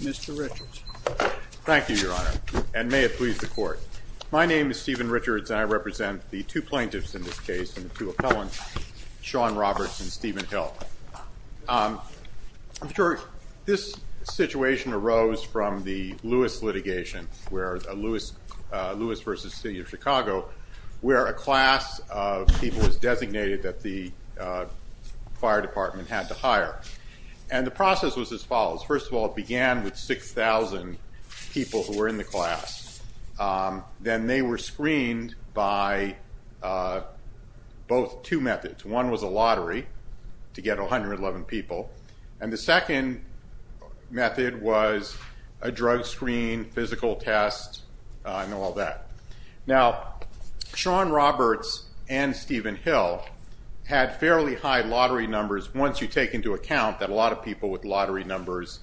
Mr. Richards. Thank you, Your Honor, and may it please the Court. My name is Stephen Richards, and I represent the two plaintiffs in this case and the two appellants, Sean Roberts and Stephen Hill. I'm sure this situation arose from the Lewis litigation, Lewis v. City of Chicago, where a class of people was designated that the fire department had to hire. And the process was as follows. First of all, it began with 6,000 people who were in the class. Then they were screened by both two methods. One was a lottery to get 111 people, and the second method was a Sean Roberts and Stephen Hill had fairly high lottery numbers once you take into account that a lot of people with lottery numbers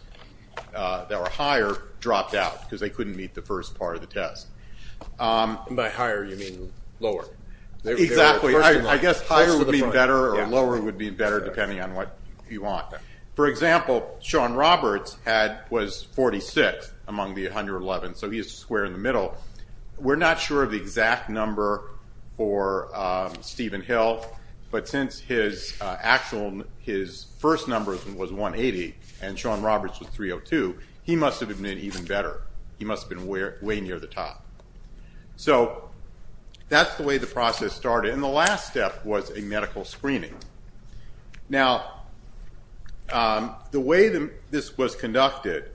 that were higher dropped out because they couldn't meet the first part of the test. By higher, you mean lower? Exactly. I guess higher would be better or lower would be better depending on what you want. For example, Sean Roberts was 46 among the 111, so he's a square in the middle. We're not sure of the exact number for Stephen Hill, but since his first number was 180 and Sean Roberts was 302, he must have been even better. He must have been way near the top. So that's the way the process started, and the last step was a medical screening. Now, the way this was conducted,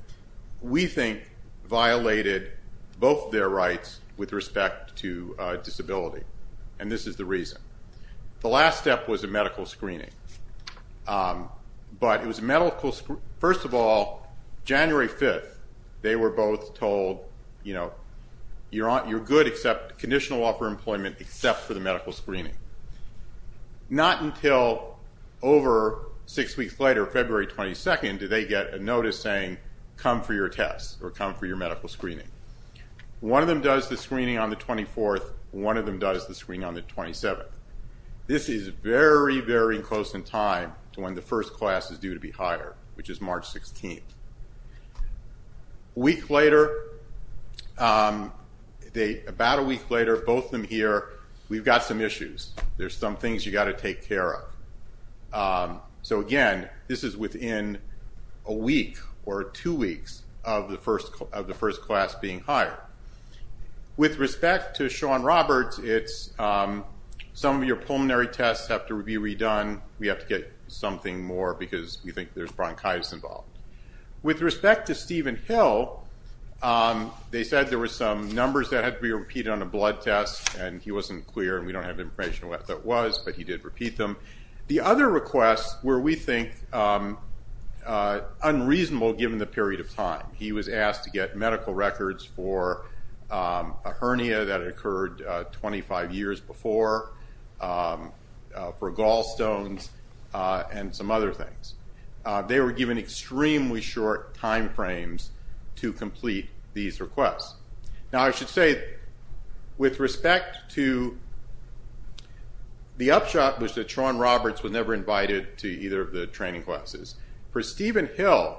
we think, violated both their rights with respect to disability, and this is the reason. The last step was a medical screening, but it was a medical screening. First of all, January 5th, they were both told, you know, you're good except for the medical screening. Not until over six weeks later, February 22nd, did they get a notice saying, come for your test or come for your medical screening. One of them does the screening on the 24th, one of them does the screen on the 27th. This is very, very close in time to when the first class is due to be hired, which is March 16th. A week later, about a week later, both of them hear, we've got some issues. There's some things you got to take care of. So again, this is within a week or two weeks of the first class being hired. With respect to Sean Roberts, some of your pulmonary tests have to be redone. We have to get something more because we think there's bronchitis involved. With respect to Stephen Hill, they said there were some numbers that had to be repeated on a blood test, and he wasn't clear, and we don't have information on what that was, but he did repeat them. The other requests were, we think, unreasonable given the period of time. He was asked to get medical for gallstones and some other things. They were given extremely short time frames to complete these requests. Now I should say, with respect to the upshot was that Sean Roberts was never invited to either of the training classes. For Stephen Hill,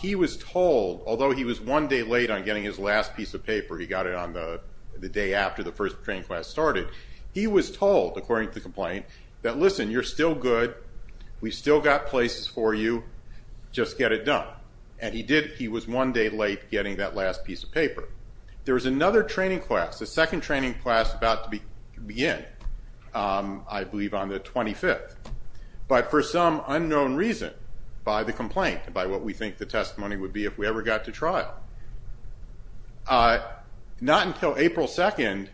he was told, although he was one day late on getting his last piece of paper, he got it on the day after the first training class started, he was told, according to the complaint, that listen, you're still good, we've still got places for you, just get it done. And he did. He was one day late getting that last piece of paper. There was another training class, a second training class about to begin, I believe on the 25th, but for some unknown reason by the complaint, by what we think the testimony would be if we ever got to trial. Not until April 2nd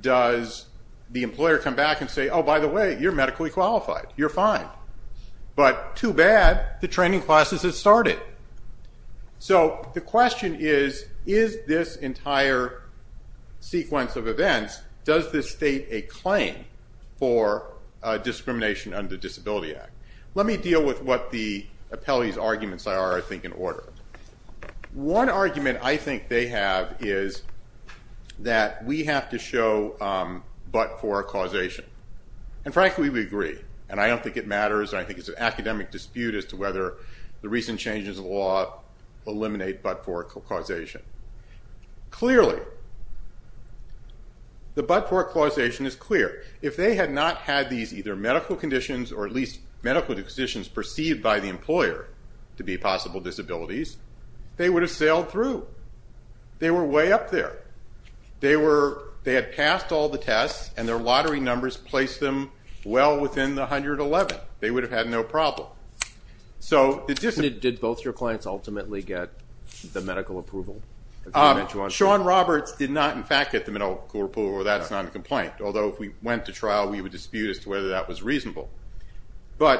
does the employer come back and say, oh by the way, you're medically qualified, you're fine. But too bad, the training classes had started. So the question is, is this entire sequence of events, does this state a claim for discrimination under the Disability Act? Let me deal with what the appellee's arguments are, I think, in order. One argument I think they have is that we have to show but-for causation. And frankly we agree, and I don't think it matters, I think it's an academic dispute as to whether the recent changes in law eliminate but-for causation. Clearly, the but-for causation is clear. If they had not had these either medical conditions or at least medical conditions perceived by the employer to be possible disabilities, they would have sailed through. They were way up there. They had passed all the tests and their lottery numbers placed them well within the 111. They would have had no problem. Did both your clients ultimately get the medical approval? Shawn Roberts did not in fact get the medical approval, that's not a complaint, although if we went to trial we would dispute as to whether that was reasonable.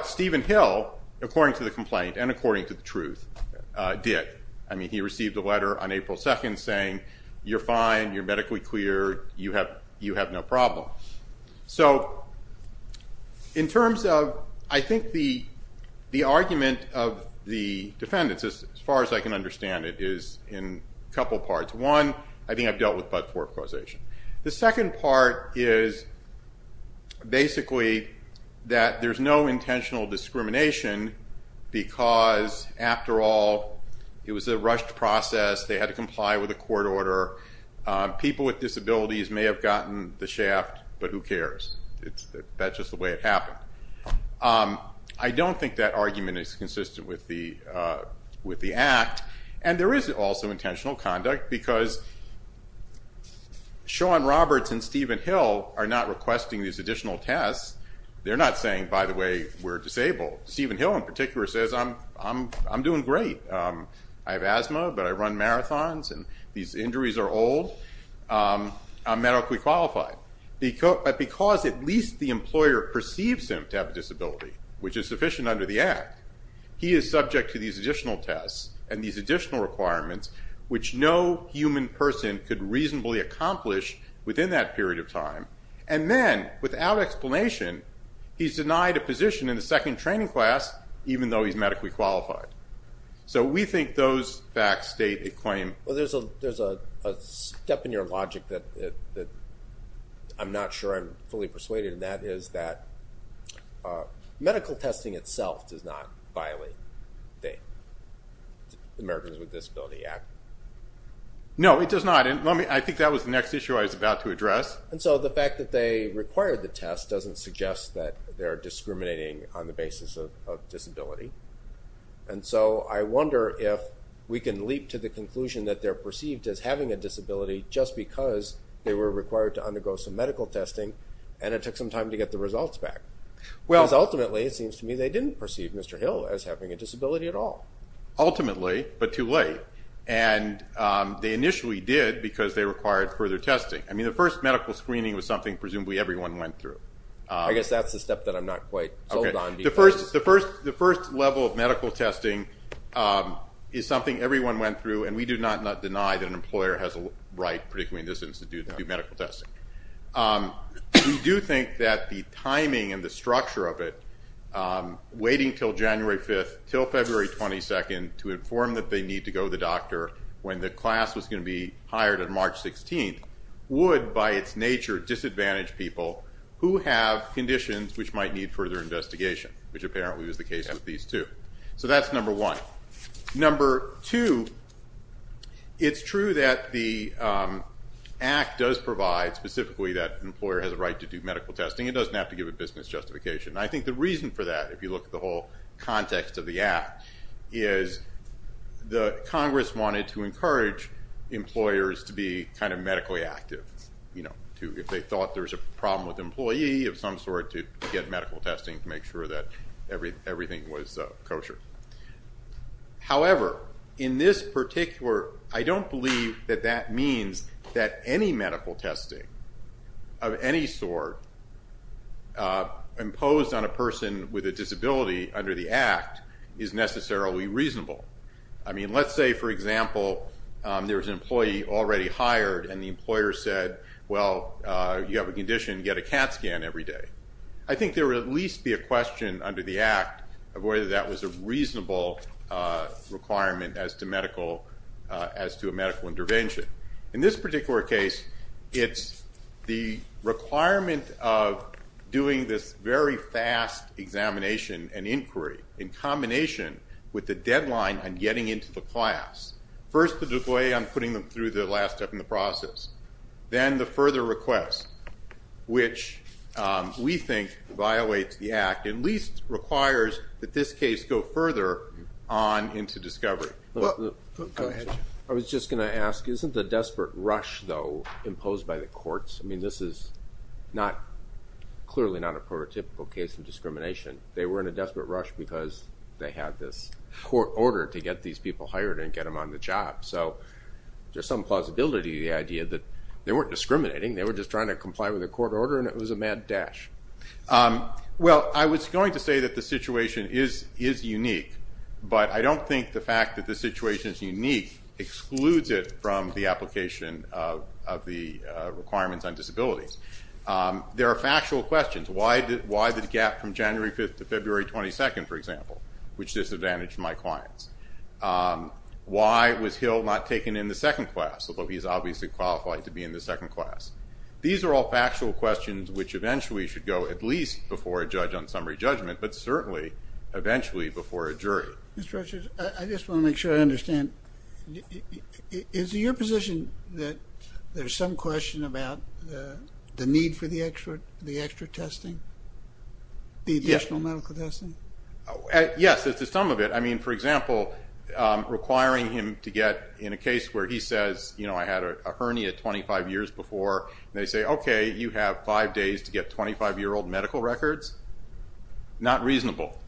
Stephen Hill, according to the complaint and according to the truth, did. He received a letter on April 2nd saying, you're fine, you're medically clear, you have no problem. So, in terms of, I think the argument of the defendants, as far as I can understand it, is in a couple parts. One, I think I've dealt with but-for causation. The second part is basically that there's no intentional discrimination because, after all, it was a rushed process. They had to comply with a court order. People with disabilities may have gotten the shaft, but who cares? That's just the way it happened. I don't think that argument is consistent with the act and there is also intentional conduct because Shawn Roberts and Stephen Hill are not requesting these additional tests. They're not saying, by the way, we're disabled. Stephen Hill in particular says, I'm doing great. I have asthma but I run marathons and these injuries are old. I'm medically qualified. But because at least the employer perceives him to have a disability, which is sufficient under the act, he is subject to these reasonably accomplished within that period of time and then, without explanation, he's denied a position in the second training class even though he's medically qualified. So, we think those facts state a claim. Well, there's a step in your logic that I'm not sure I'm fully persuaded and that is that medical testing itself does not violate the Americans with Disability Act. No, it does not. I think that was the next issue I was about to address. And so, the fact that they required the test doesn't suggest that they're discriminating on the basis of disability. And so, I wonder if we can leap to the conclusion that they're perceived as having a disability just because they were required to undergo some medical testing and it took some time to get the results back. Because ultimately, it seems to me, they didn't perceive Mr. Hill as having a disability at all. Ultimately, but too late. And they initially did because they required further testing. I mean, the first medical screening was something presumably everyone went through. I guess that's the step that I'm not quite told on. The first level of medical testing is something everyone went through and we do not deny that an employer has a right, particularly in this institute, to do medical testing. We do think that the timing and the till February 22nd to inform that they need to go to the doctor when the class was going to be hired on March 16th would, by its nature, disadvantage people who have conditions which might need further investigation, which apparently was the case with these two. So, that's number one. Number two, it's true that the Act does provide specifically that an employer has a right to do medical testing. It doesn't have to give a business justification. I think the reason for that, if you look at the whole context of the Act, is Congress wanted to encourage employers to be kind of medically active. If they thought there was a problem with an employee of some sort, to get medical testing to make sure that everything was kosher. However, in this particular, I don't believe that that means that any medical testing of any sort imposed on a person with a disability under the Act is necessarily reasonable. I mean, let's say, for example, there was an employee already hired and the employer said, well, you have a condition, get a CAT scan every day. I think there would at least be a question under the Act of whether that was a reasonable requirement as to medical, as to a medical intervention. In this particular case, it's the requirement of doing this very fast examination and inquiry in combination with the deadline on getting into the class. First, the delay on putting them through the last step in the process. Then, the further request, which we think violates the Act, at least requires that this case go further on into discovery. I was just going to ask, isn't the desperate rush, though, imposed by the courts, I mean, this is not, clearly not a prototypical case of discrimination. They were in a desperate rush because they had this court order to get these people hired and get them on the job. So, there's some plausibility to the idea that they weren't discriminating, they were just trying to comply with the court order and it was a mad dash. Well, I was going to say that the situation is unique, but I don't think the fact that the of the requirements on disabilities. There are factual questions. Why the gap from January 5th to February 22nd, for example, which disadvantaged my clients? Why was Hill not taken in the second class, although he's obviously qualified to be in the second class? These are all factual questions which eventually should go at least before a judge on summary judgment, but certainly, eventually before a jury. Mr. Richards, I just want to make sure I understand. Is it your position that there's some question about the need for the extra testing, the additional medical testing? Yes, there's some of it. I mean, for example, requiring him to get, in a case where he says, you know, I had a hernia 25 years before, they say, okay, you have five days to get 25-year-old medical records. Not reasonable.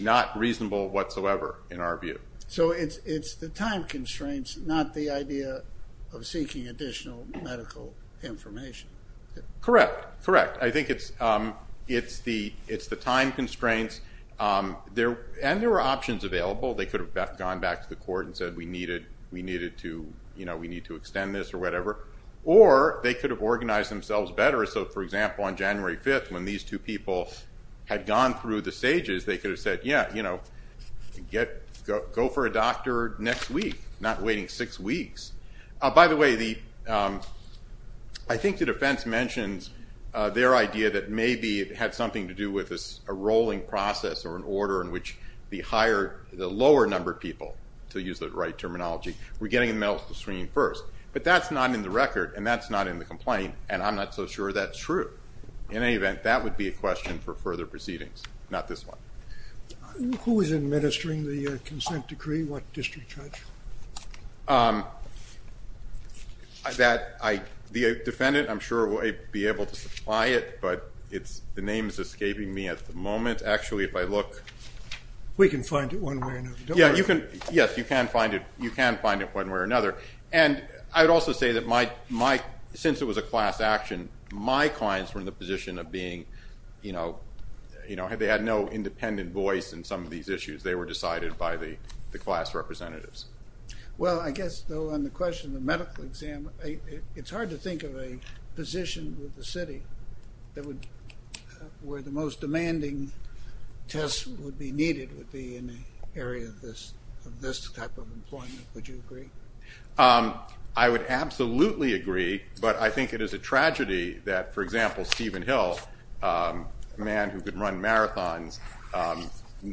Not reasonable whatsoever, in our view. So it's the time constraints, not the idea of seeking additional medical information. Correct. Correct. I think it's the time constraints, and there were options available. They could have gone back to the court and said, we need to extend this or whatever, or they could have organized themselves better. So for example, on January 5th, when these two people had gone through the stages, they could have said, yeah, you know, go for a doctor next week, not waiting six weeks. By the way, I think the defense mentions their idea that maybe it had something to do with a rolling process or an order in which the lower-numbered people, to use the right terminology, were getting the medical screening first. But that's not in the record, and that's not in the complaint, and I'm not so sure that's true. In any event, that would be a question for further proceedings, not this one. Who is administering the consent decree? What district judge? The defendant, I'm sure, will be able to supply it, but the name is escaping me at the moment. Actually, if I look... We can find it one way or another, don't worry. Yes, you can find it one way or another. And I would also say that since it was a class action, my clients were in the position of being, you know, they had no independent voice in some of these issues. They were decided by the class representatives. Well, I guess, though, on the question of the medical exam, it's hard to think of a position with the city that would... where the most demanding tests would be needed would be in the area of this type of employment. Would you agree? Um, I would absolutely agree, but I think it is a tragedy that, for example, Stephen Hill, a man who could run marathons,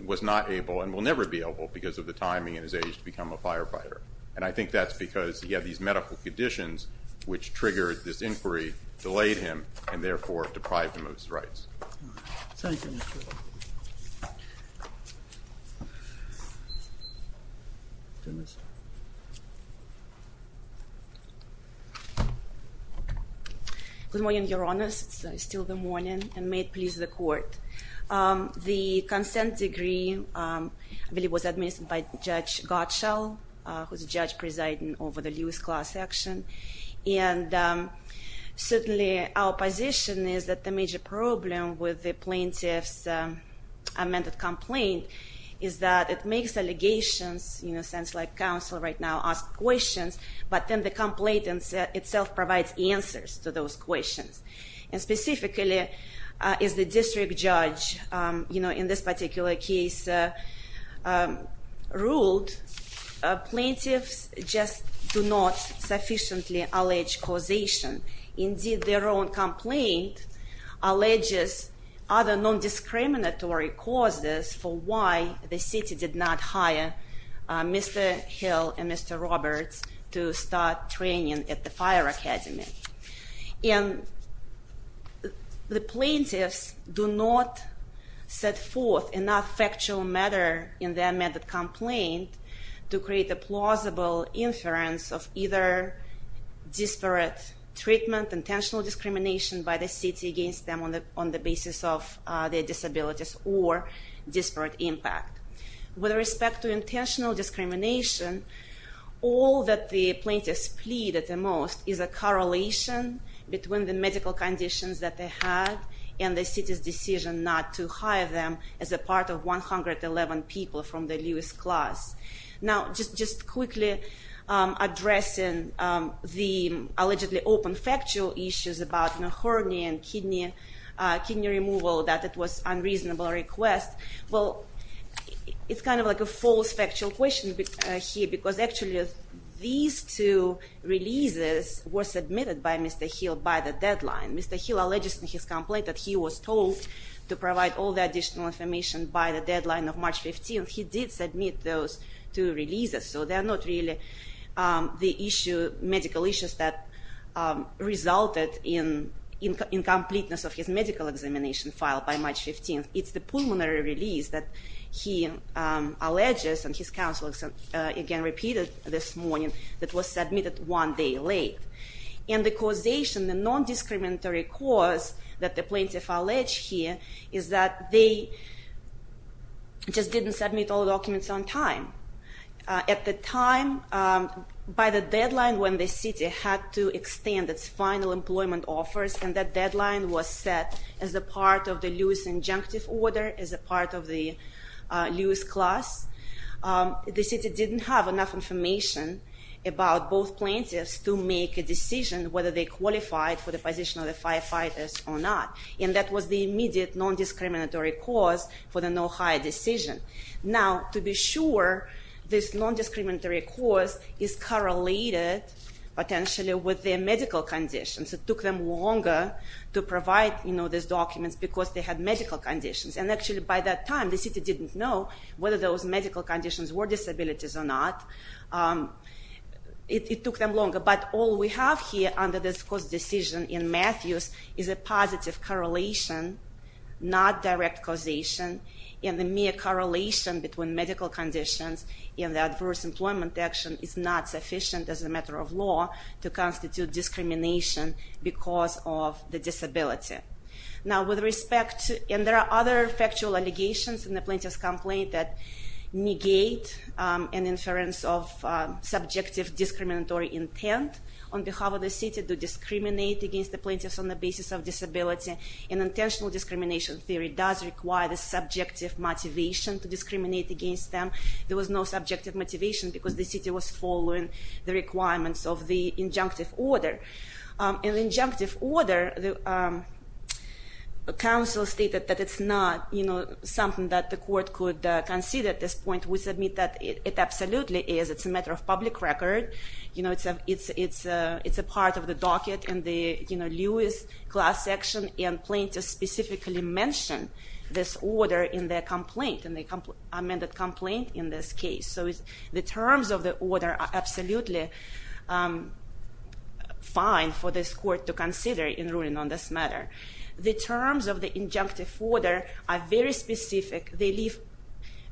was not able, and will never be able, because of the time he and his age to become a firefighter. And I think that's because he had these medical conditions which triggered this inquiry, delayed him, and therefore deprived him of his rights. Thank you. Good morning, Your Honors. It's still the morning, and may it please the Court. The consent decree, I believe, was administered by Judge Gottschall, who's a judge presiding over the Lewis class action. And certainly our position is that the major problem with the plaintiff's amended complaint is that it makes allegations, in a sense, like counsel right now ask questions, but then the complaint itself provides answers to those questions. And specifically, as the district judge, you know, in this particular case, ruled, plaintiffs just do not sufficiently allege causation. Indeed, their own complaint alleges other non-discriminatory causes for why the city did not hire Mr. Hill and Mr. Roberts to start training at the fire academy. And the plaintiffs do not set forth enough factual matter in their amended complaint to create a plausible inference of either disparate treatment, intentional discrimination by the city against them on the basis of their disabilities or disparate impact. With respect to intentional discrimination, all that the plaintiffs plead at the most is a correlation between the medical conditions that they had and the city's decision not to hire them as a part of 111 people from the Lewis class. Now, just quickly addressing the allegedly open factual issues about hernia and kidney removal that it was unreasonable request, well, it's kind of like a false factual question here because actually these two releases were submitted by Mr. Hill by the deadline. Mr. Hill alleges in his complaint that he was told to provide all the additional information by the deadline of March 15th. He did submit those two releases, so they resulted in incompleteness of his medical examination file by March 15th. It's the pulmonary release that he alleges and his counsel again repeated this morning that was submitted one day late. And the causation, the non-discriminatory cause that the plaintiff allege here is that they just didn't submit all the documents on time. At the time, by the deadline when the city had to final employment offers and that deadline was set as a part of the Lewis injunctive order, as a part of the Lewis class, the city didn't have enough information about both plaintiffs to make a decision whether they qualified for the position of the firefighters or not. And that was the immediate non-discriminatory cause for the no hire decision. Now, to be sure this non-discriminatory cause is correlated potentially with their medical conditions. It took them longer to provide, you know, these documents because they had medical conditions. And actually by that time the city didn't know whether those medical conditions were disabilities or not. It took them longer, but all we have here under this cause decision in Matthews is a positive correlation, not direct causation, and the mere correlation between medical conditions and the adverse employment action is not sufficient as a matter of law to constitute discrimination because of the disability. Now, with respect to, and there are other factual allegations in the plaintiff's complaint that negate an inference of subjective discriminatory intent on behalf of the city to discriminate against the plaintiffs on the basis of disability. An intentional discrimination theory does require the subjective motivation to discriminate against them. There was no subjective motivation because the city was following the requirements of the injunctive order. In the injunctive order, the council stated that it's not, you know, something that the court could concede at this point. We submit that it absolutely is. It's a matter of public record. You know, it's a part of the docket in the, you know, Lewis class section and plaintiffs specifically mention this order in their complaint, in the amended complaint in this case. So the terms of the order are absolutely fine for this court to consider in ruling on this matter. The terms of the injunctive order are very specific. They leave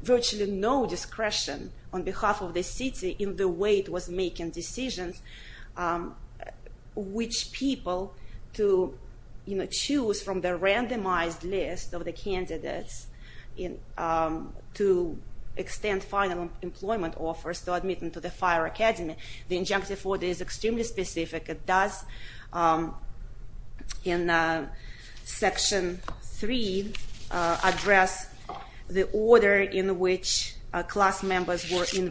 virtually no discretion on behalf of the city in the way it was making decisions which people to, you know, choose from the randomized list of the candidates in to extend final employment offers to admit them to the fire academy. The injunctive order is extremely specific. It does, in section three, address the order in which class members were and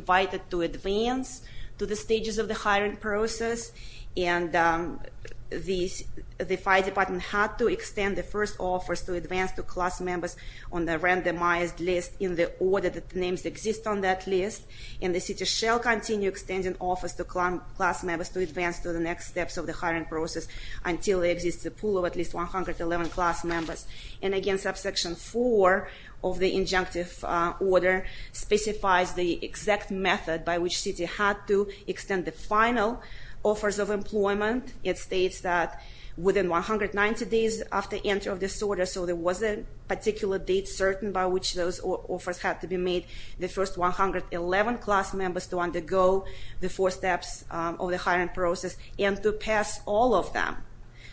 the fire department had to extend the first offers to advance to class members on the randomized list in the order that the names exist on that list. And the city shall continue extending offers to class members to advance to the next steps of the hiring process until there exists a pool of at least 111 class members. And again, subsection four of the injunctive order specifies the exact method by which city had to extend the final offers of employment. It states that within 190 days after enter of this order, so there was a particular date certain by which those offers had to be made, the first 111 class members to undergo the four steps of the hiring process and to pass all of them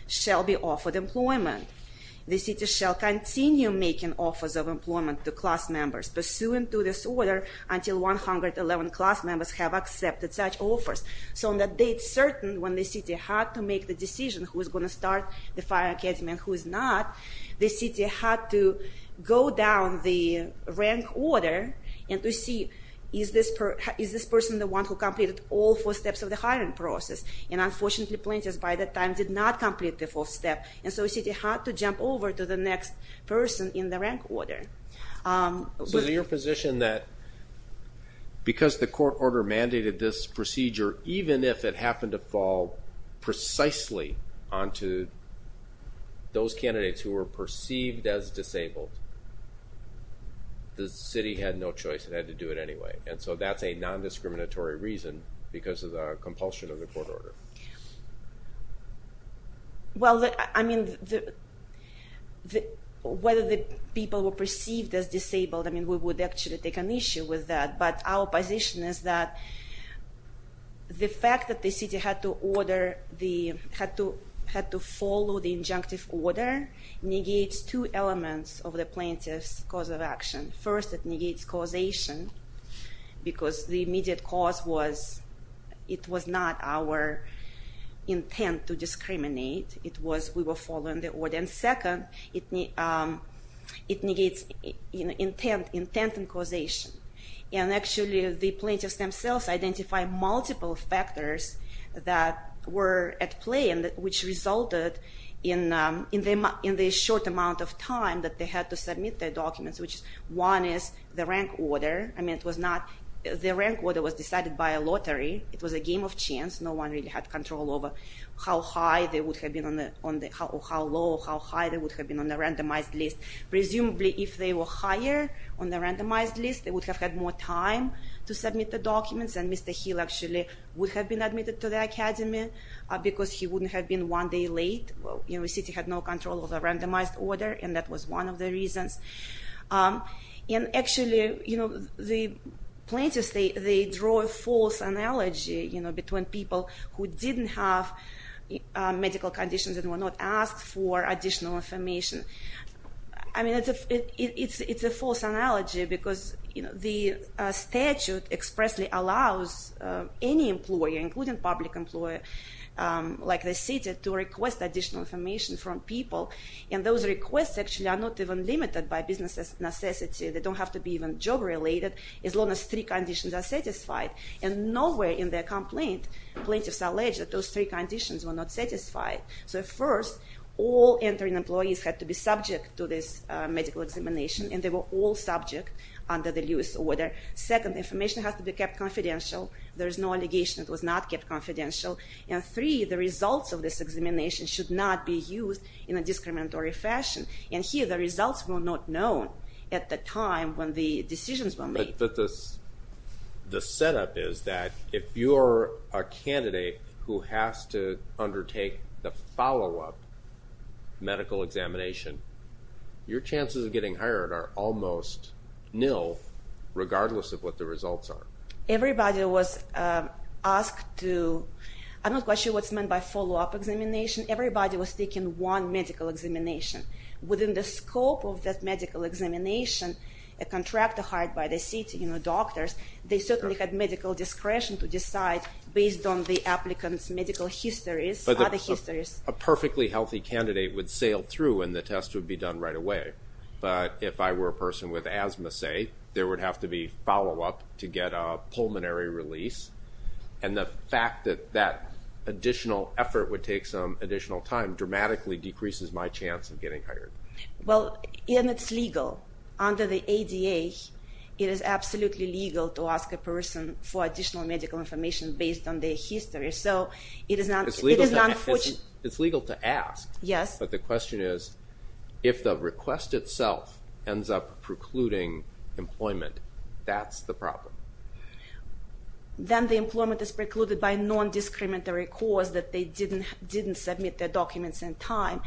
shall be offered employment. The city shall continue making offers of employment to class members pursuant to this order until 111 class members have accepted such offers. So on that date certain when the city had to make the decision who is going to start the fire academy and who is not, the city had to go down the rank order and to see is this person the one who completed all four steps of the hiring process. And unfortunately plaintiffs by that time did not complete the full step and so city had to jump over to the next person in the rank order. So your position that because the court order mandated this procedure even if it happened to fall precisely onto those candidates who were perceived as disabled, the city had no choice and had to do it anyway. And so that's a non-discriminatory reason because of the compulsion of the court order. Well I mean whether the people were perceived as disabled I mean we would actually take an issue with that, but our position is that the fact that the city had to order the had to had to follow the injunctive order negates two elements of the plaintiff's cause of action. First it negates causation because the immediate cause was it was not our intent to discriminate, it was we were following the order. And second it negates intent and causation. And actually the plaintiffs themselves identified multiple factors that were at play and which resulted in the short amount of time that they had to submit their documents which is one is the rank order. I mean it was not the rank order was decided by a lottery it was a game of chance no one really had control over how high they would have been on the on the how low how high they would have been on the randomized list. Presumably if they were higher on the randomized list they would have had more time to submit the documents and Mr. Hill actually would have been admitted to the randomized order and that was one of the reasons. And actually you know the plaintiffs they draw a false analogy you know between people who didn't have medical conditions and were not asked for additional information. I mean it's a false analogy because you know the statute expressly allows any employer including public employer like the city to request additional information from people and those requests actually are not even limited by business necessity they don't have to be even job related as long as three conditions are satisfied and nowhere in their complaint plaintiffs allege that those three conditions were not satisfied. So first all entering employees had to be subject to this medical examination and they were all subject under the Lewis order. Second information has to be kept confidential there is no allegation it should not be used in a discriminatory fashion and here the results were not known at the time when the decisions were made. But this the setup is that if you're a candidate who has to undertake the follow-up medical examination your chances of getting hired are almost nil regardless of what the results are. Everybody was asked to I'm not quite sure what's meant by follow-up examination everybody was taking one medical examination within the scope of that medical examination a contractor hired by the city you know doctors they certainly had medical discretion to decide based on the applicant's medical histories. A perfectly healthy candidate would sail through and the test would be done right away but if I were a person with asthma say there would have to be follow-up to get a pulmonary release and the fact that that additional effort would take additional time dramatically decreases my chance of getting hired. Well and it's legal under the ADA it is absolutely legal to ask a person for additional medical information based on their history so it is not it's legal to ask yes but the question is if the request itself ends up precluding employment that's the problem. Then the employment is precluded by non-discriminatory cause that they didn't didn't submit their documents in time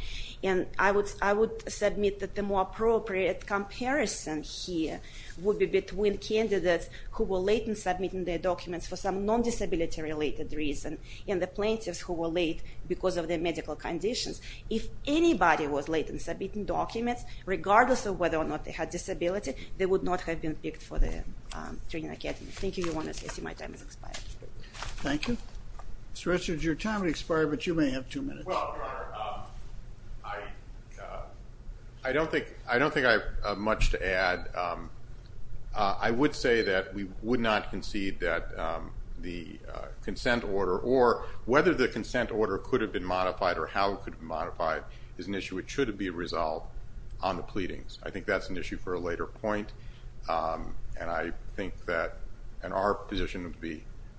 and I would I would submit that the more appropriate comparison here would be between candidates who were late in submitting their documents for some non-disability related reason and the plaintiffs who were late because of their medical conditions. If anybody was late in submitting documents regardless of whether or not they had disability they would not have been picked for the training academy. Thank you, Mr. Richard your time has expired but you may have two minutes. Well I don't think I have much to add I would say that we would not concede that the consent order or whether the consent order could have been modified or how it could be modified is an issue it should be resolved on the pleadings. I think that's an issue for a later point and I think that and our position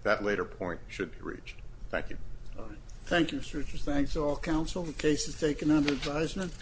that later point should be reached. Thank you. All right thank you Mr. Richard thanks to all counsel the case is taken under advisement.